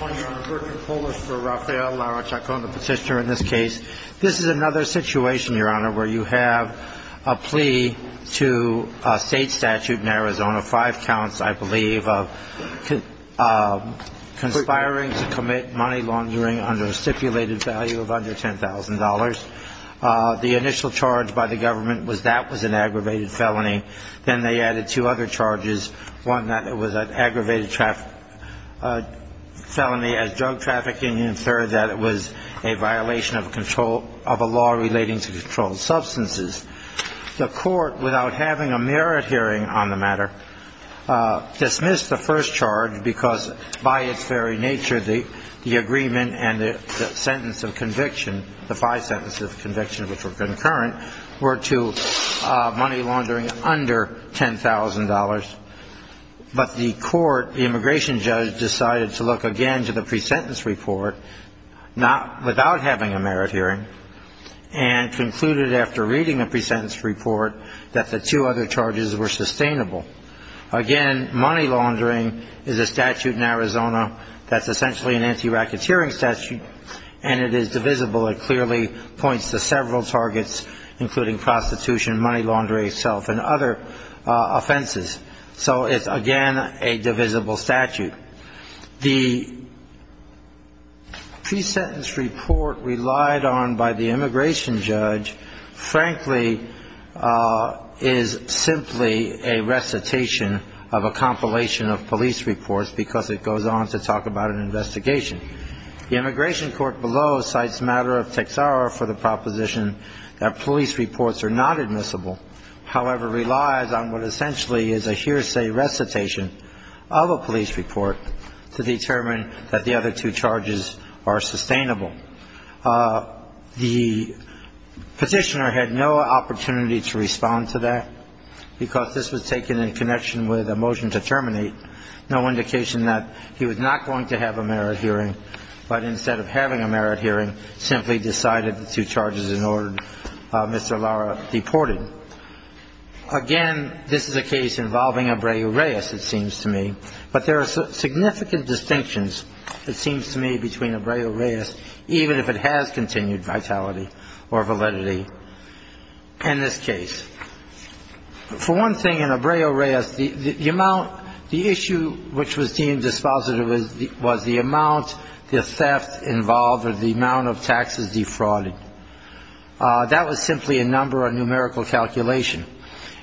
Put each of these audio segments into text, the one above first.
This is another situation where you have a plea to a state statute in Arizona, five counts I believe, of conspiring to commit money laundering under a stipulated value of under $10,000. The initial charge by the government was that was an aggravated felony. Then they added two other charges, one that it was an aggravated felony as drug trafficking, and third that it was a violation of a law relating to controlled substances. The court, without having a merit hearing on the matter, dismissed the first charge because by its very nature the agreement and the sentence of conviction, the five sentences of conviction which were concurrent, were to money laundering under $10,000. But the court, the immigration judge, decided to look again to the pre-sentence report, without having a merit hearing, and concluded after reading the pre-sentence report that the two other charges were sustainable. Again, money laundering is a statute in Arizona that's essentially an anti-racketeering statute, and it is divisible. It clearly points to several targets, including prostitution, money laundering itself, and other offenses. So it's again a divisible statute. The pre-sentence report relied on by the immigration judge, frankly, is simply a recitation of a compilation of police reports because it goes on to talk about an investigation. The immigration court below cites matter of Texaro for the proposition that police reports are not admissible, however, relies on what essentially is a hearsay recitation of a police report to determine that the other two charges are sustainable. The petitioner had no opportunity to respond to that because this was taken in connection with a motion to terminate, no indication that he was not going to have a merit hearing, but instead of having a merit hearing, simply decided the two charges in order, Mr. Lara deported. Again, this is a case involving Abreu-Reyes, it seems to me, but there are significant distinctions, it seems to me, between Abreu-Reyes, even if it has continued vitality or validity in this case. For one thing, in Abreu-Reyes, the issue which was deemed dispositive was the amount, the theft involved, or the amount of taxes defrauded. That was simply a number, a numerical calculation.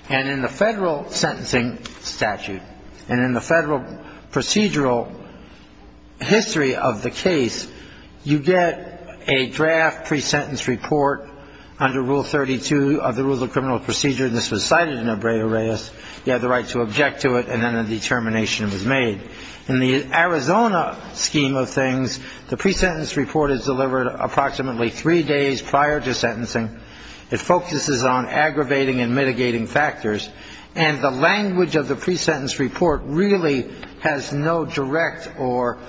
And in the federal sentencing statute, and in the federal procedural history of the case, you get a draft pre-sentence report under Rule 32 of the Rules of Criminal Procedure. This was cited in Abreu-Reyes. You have the right to object to it, and then a determination was made. In the Arizona scheme of things, the pre-sentence report is delivered approximately three days prior to sentencing. It focuses on aggravating and mitigating factors. And the language of the pre-sentence report really has no direct or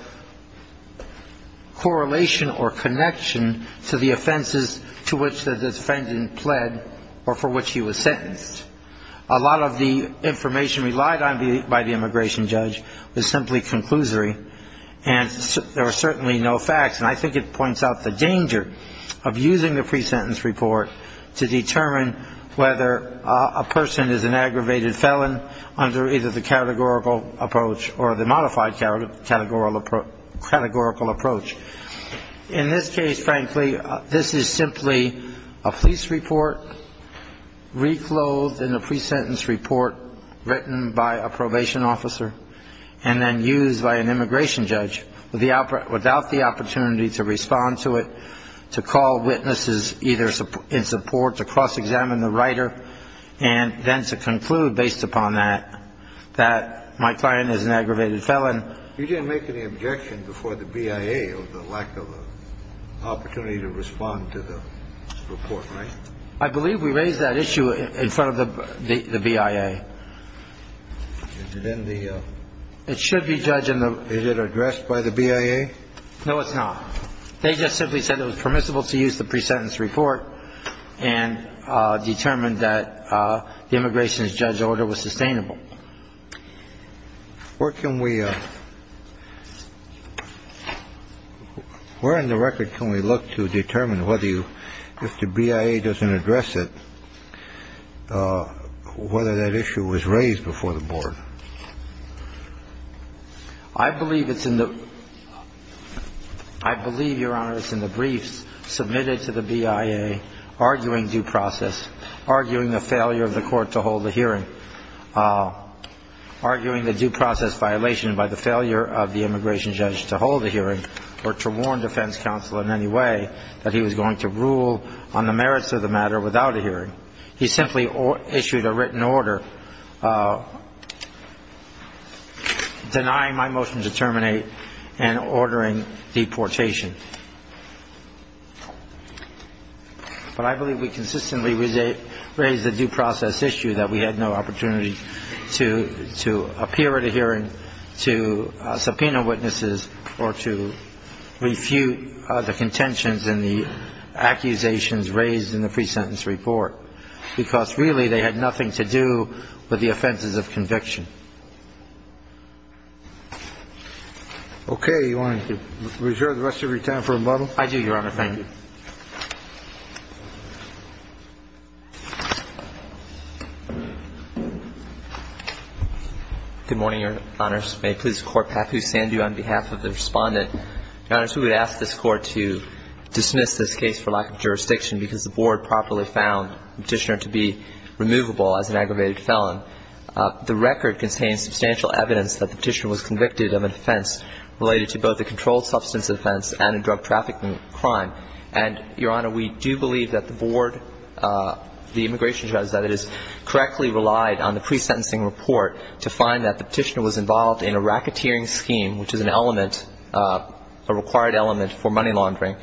correlation or connection to the offenses to which the defendant pled or for which he was sentenced. A lot of the information relied on by the immigration judge was simply conclusory, and there are certainly no facts. And I think it points out the danger of using the pre-sentence report to determine whether a person is an aggravated felon under either the categorical approach or the modified categorical approach. In this case, frankly, this is simply a police report reclothed in a pre-sentence report written by a probation officer and then used by an immigration judge without the opportunity to respond to it, to call witnesses either in support, to cross-examine the writer, and then to conclude, based upon that, that my client is an aggravated felon. You didn't make any objection before the BIA of the lack of opportunity to respond to the report, right? I believe we raised that issue in front of the BIA. Is it in the ‑‑ It should be judged in the ‑‑ Is it addressed by the BIA? No, it's not. They just simply said it was permissible to use the pre-sentence report and determined that the immigration judge's order was sustainable. Where can we ‑‑ where in the record can we look to determine whether you ‑‑ if the BIA doesn't address it, whether that issue was raised before the board? I believe it's in the ‑‑ I believe, Your Honor, it's in the briefs submitted to the BIA arguing due process, arguing the failure of the court to hold a hearing. Arguing the due process violation by the failure of the immigration judge to hold a hearing or to warn defense counsel in any way that he was going to rule on the merits of the matter without a hearing. He simply issued a written order denying my motion to terminate and ordering deportation. But I believe we consistently raised the due process issue that we had no opportunity to appear at a hearing, to subpoena witnesses, or to refute the contentions and the accusations raised in the pre-sentence report, because really they had nothing to do with the offenses of conviction. Okay. You want to reserve the rest of your time for rebuttal? I do, Your Honor. Thank you. Good morning, Your Honors. May it please the Court, Pat, who stand you on behalf of the Respondent. Your Honors, we would ask this Court to dismiss this case for lack of jurisdiction because the board properly found the petitioner to be removable as an aggravated felon. The record contains substantial evidence that the petitioner was convicted of an offense related to both a controlled substance offense and a drug trafficking crime. And, Your Honor, we do believe that the board, the immigration judge, that it is correctly relied on the pre-sentencing report to find that the petitioner was involved in a racketeering scheme, which is an element, a required element for money laundering,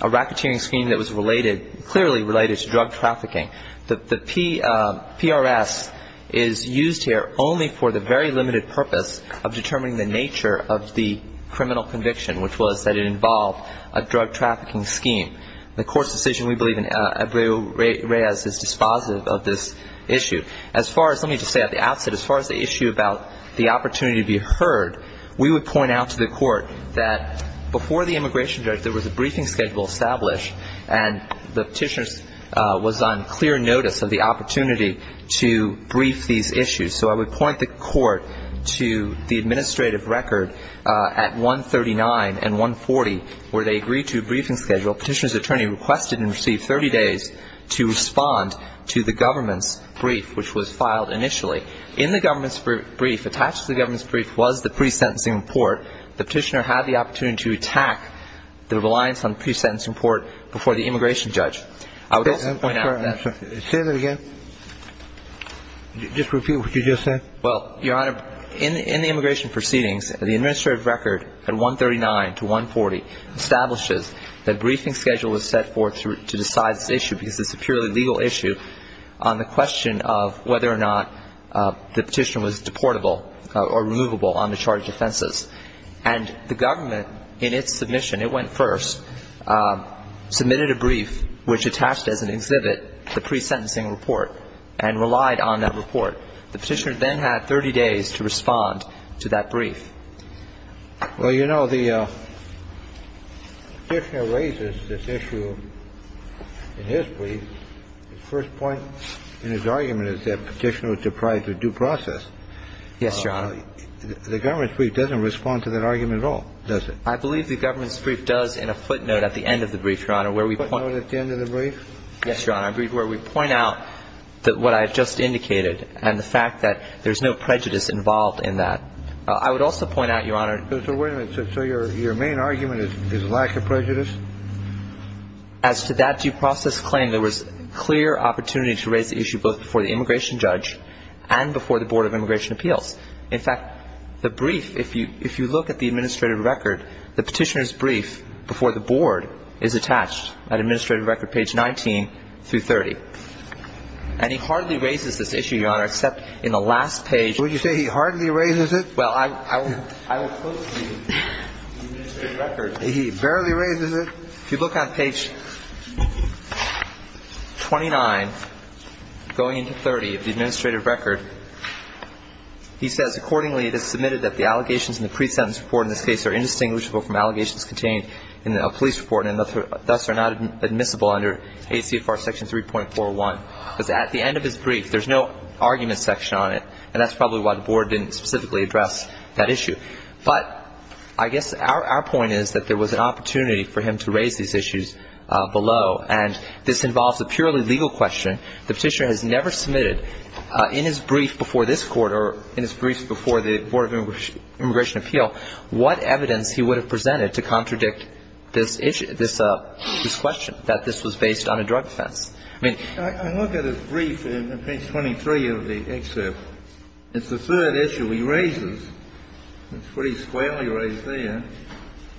a racketeering scheme that was related, clearly related to drug trafficking. The PRS is used here only for the very limited purpose of determining the nature of the criminal conviction, which was that it involved a drug trafficking scheme. The Court's decision, we believe, in Abreu Reyes is dispositive of this issue. As far as, let me just say at the outset, as far as the issue about the opportunity to be heard, we would point out to the Court that before the immigration judge, there was a briefing schedule established, and the petitioner was on clear notice of the opportunity to brief these issues. So I would point the Court to the administrative record at 139 and 140, where they agreed to a briefing schedule. Petitioner's attorney requested and received 30 days to respond to the government's brief, which was filed initially. In the government's brief, attached to the government's brief was the pre-sentencing report. The petitioner had the opportunity to attack the reliance on the pre-sentencing report before the immigration judge. I would also point out that. Say that again. Just repeat what you just said. Well, Your Honor, in the immigration proceedings, the administrative record at 139 to 140 establishes that a briefing schedule was set forth to decide this issue because it's a purely legal issue on the question of whether or not the petitioner was deportable or removable on the charge of offenses. And the government, in its submission, it went first, submitted a brief, which attached as an exhibit the pre-sentencing report and relied on that report. The petitioner then had 30 days to respond to that brief. Well, you know, the petitioner raises this issue in his brief. The first point in his argument is that petitioner was deprived of due process. Yes, Your Honor. The government's brief doesn't respond to that argument at all, does it? I believe the government's brief does in a footnote at the end of the brief, Your Honor, where we point. Footnote at the end of the brief? Yes, Your Honor, where we point out that what I have just indicated and the fact that there's no prejudice involved in that. I would also point out, Your Honor. So wait a minute. So your main argument is lack of prejudice? As to that due process claim, there was clear opportunity to raise the issue both before the immigration judge and before the Board of Immigration Appeals. In fact, the brief, if you look at the administrative record, the petitioner's brief before the board is attached at administrative record page 19 through 30. And he hardly raises this issue, Your Honor, except in the last page. What did you say? He hardly raises it? Well, I will quote the administrative record. He barely raises it. If you look on page 29 going into 30 of the administrative record, he says accordingly it is submitted that the allegations in the pre-sentence report in this case are indistinguishable from allegations contained in a police report and thus are not admissible under ACFR section 3.401. Because at the end of his brief, there's no argument section on it, and that's probably why the board didn't specifically address that issue. But I guess our point is that there was an opportunity for him to raise these issues below, and this involves a purely legal question. The petitioner has never submitted in his brief before this Court or in his briefs before the Board of Immigration Appeal what evidence he would have presented to contradict this issue, this question, that this was based on a drug offense. I mean ---- I look at his brief in page 23 of the excerpt. It's the third issue he raises. It's pretty squarely raised there.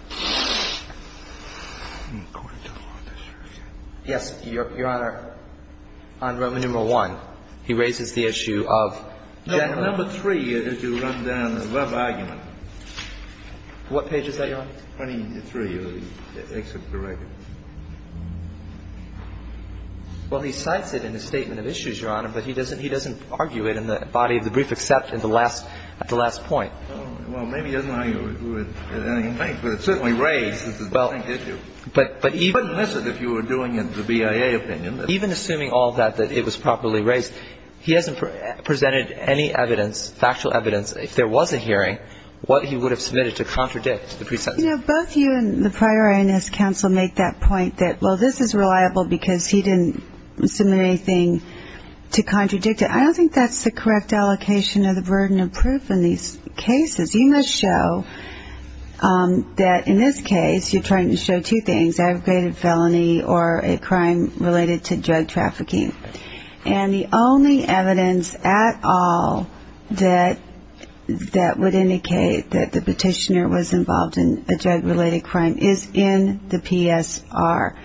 I'm going to go on this for a second. Yes, Your Honor. On Roman numeral 1, he raises the issue of general ---- No. Number 3, as you run down the web argument. What page is that, Your Honor? 23 of the excerpt of the record. Well, he cites it in his statement of issues, Your Honor, but he doesn't argue it in the body of the brief except at the last point. Well, maybe he doesn't argue it at any point, but it's certainly raised. This is the same issue. But even ---- You wouldn't miss it if you were doing it in the BIA opinion. Even assuming all that, that it was properly raised, he hasn't presented any evidence, factual evidence, if there was a hearing, what he would have submitted to contradict the presumption. You know, both you and the prior INS counsel make that point that, well, this is reliable because he didn't submit anything to contradict it. I don't think that's the correct allocation of the burden of proof in these cases. You must show that in this case you're trying to show two things, aggravated felony or a crime related to drug trafficking. And the only evidence at all that would indicate that the petitioner was involved in a drug-related crime is in the PSR.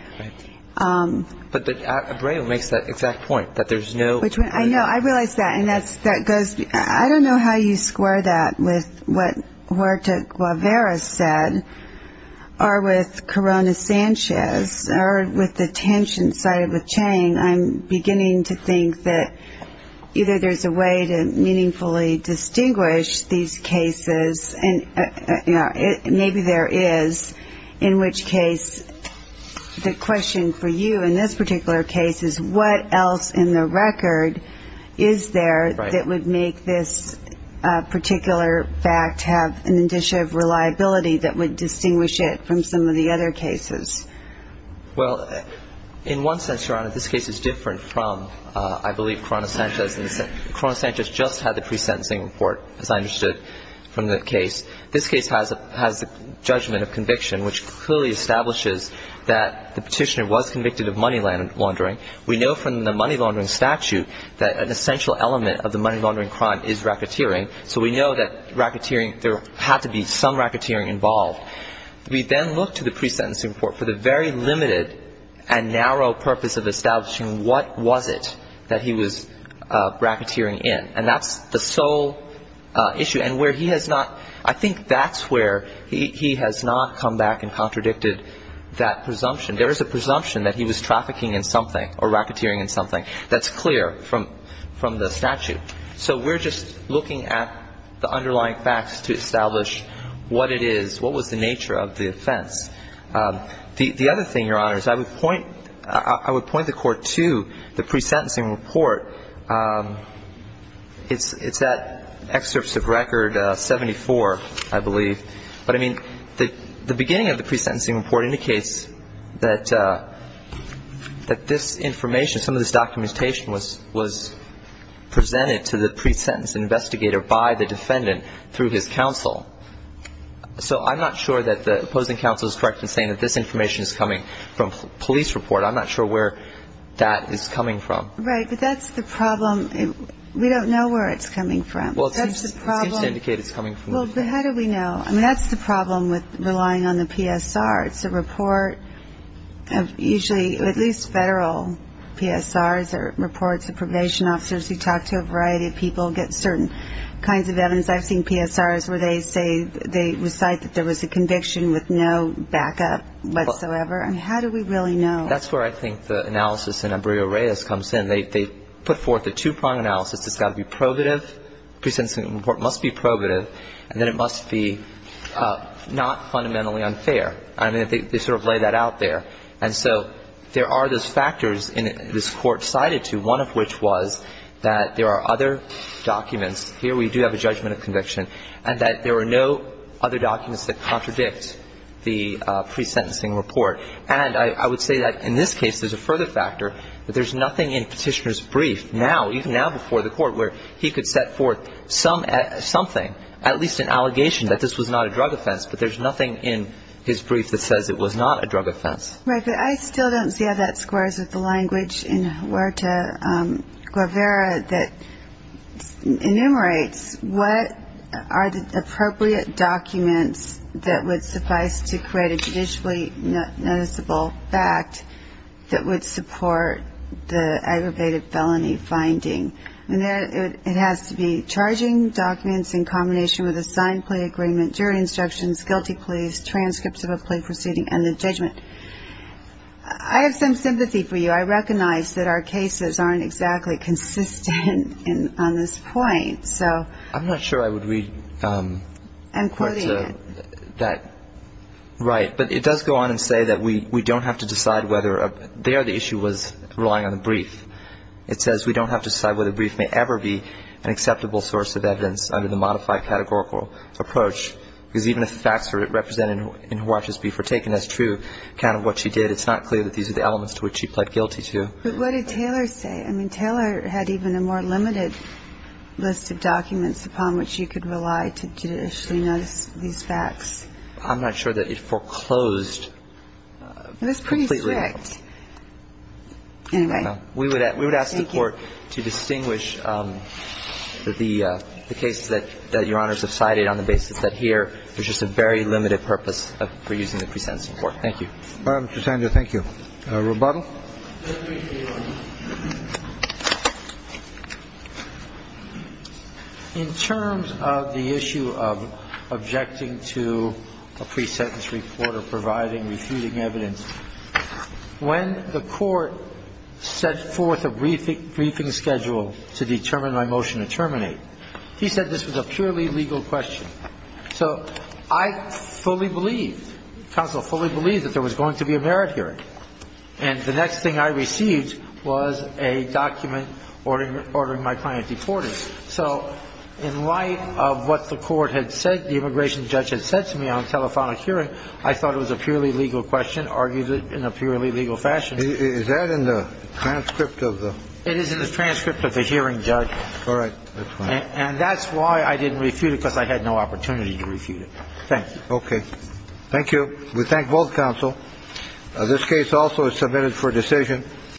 But Abreu makes that exact point, that there's no ---- I know. I realize that. And that goes ---- I don't know how you square that with what Huerta-Guevara said or with Corona-Sanchez or with the tension sided with Chang. I'm beginning to think that either there's a way to meaningfully distinguish these cases and maybe there is, in which case the question for you in this particular case is, what else in the record is there that would make this particular fact have an indicia of reliability that would distinguish it from some of the other cases? Well, in one sense, Your Honor, this case is different from, I believe, Corona-Sanchez. Corona-Sanchez just had the pre-sentencing report, as I understood from the case. This case has the judgment of conviction, which clearly establishes that the petitioner was convicted of money laundering. We know from the money laundering statute that an essential element of the money laundering crime is racketeering, so we know that racketeering ---- there had to be some racketeering involved. We then look to the pre-sentencing report for the very limited and narrow purpose of establishing what was it that he was racketeering in, and that's the sole issue. And where he has not ---- I think that's where he has not come back and contradicted that presumption. There is a presumption that he was trafficking in something or racketeering in something. That's clear from the statute. So we're just looking at the underlying facts to establish what it is, what was the nature of the offense. The other thing, Your Honors, I would point the Court to the pre-sentencing report. It's at excerpts of Record 74, I believe. But, I mean, the beginning of the pre-sentencing report indicates that this information, some of this documentation was presented to the pre-sentence investigator by the defendant through his counsel. So I'm not sure that the opposing counsel is correct in saying that this information is coming from police report. I'm not sure where that is coming from. Right. But that's the problem. We don't know where it's coming from. Well, it seems to indicate it's coming from the police. Well, how do we know? I mean, that's the problem with relying on the PSR. It's a report of usually at least federal PSRs or reports of probation officers who talk to a variety of people, get certain kinds of evidence. I've seen PSRs where they say they recite that there was a conviction with no backup whatsoever. I mean, how do we really know? That's where I think the analysis in Embryo Reyes comes in. They put forth a two-prong analysis. It's got to be probative. The pre-sentencing report must be probative. And then it must be not fundamentally unfair. I mean, they sort of lay that out there. And so there are those factors this Court cited to, one of which was that there are other documents. Here we do have a judgment of conviction, and that there are no other documents that contradict the pre-sentencing report. And I would say that in this case there's a further factor, that there's nothing in Petitioner's brief now, even now before the Court, where he could set forth something, at least an allegation that this was not a drug offense, but there's nothing in his brief that says it was not a drug offense. Right, but I still don't see how that squares with the language in Huerta-Guevara that enumerates what are the appropriate documents that would suffice to create a judicially noticeable fact that would support the aggravated felony finding. It has to be charging documents in combination with a signed plea agreement, jury instructions, guilty pleas, transcripts of a plea proceeding, and the judgment. I have some sympathy for you. I recognize that our cases aren't exactly consistent on this point. So I'm not sure I would read that. I'm quoting it. Right. But it does go on and say that we don't have to decide whether there the issue was relying on the brief. It says we don't have to decide whether the brief may ever be an acceptable source of evidence under the modified categorical approach. Because even if the facts are represented in Huerta's brief are taken as true account of what she did, it's not clear that these are the elements to which she pled guilty to. But what did Taylor say? I mean, Taylor had even a more limited list of documents upon which you could rely to judicially notice these facts. I'm not sure that it foreclosed completely. It was pretty strict. Anyway. We would ask the Court to distinguish the cases that Your Honors have cited on the basis that here there's just a very limited purpose for using the pre-sentencing court. Thank you. All right, Mr. Sander. Thank you. Rebuttal. In terms of the issue of objecting to a pre-sentence report or providing, refuting evidence, when the Court set forth a briefing schedule to determine my motion to terminate, he said this was a purely legal question. So I fully believed, counsel, fully believed that there was going to be a merit hearing. And the next thing I received was a document ordering my client deported. So in light of what the Court had said, the immigration judge had said to me on telephonic hearing, I thought it was a purely legal question, argued it in a purely legal fashion. Is that in the transcript of the? It is in the transcript of the hearing, Judge. All right. And that's why I didn't refute it, because I had no opportunity to refute it. Thank you. Okay. Thank you. We thank both counsel. This case also is submitted for decision.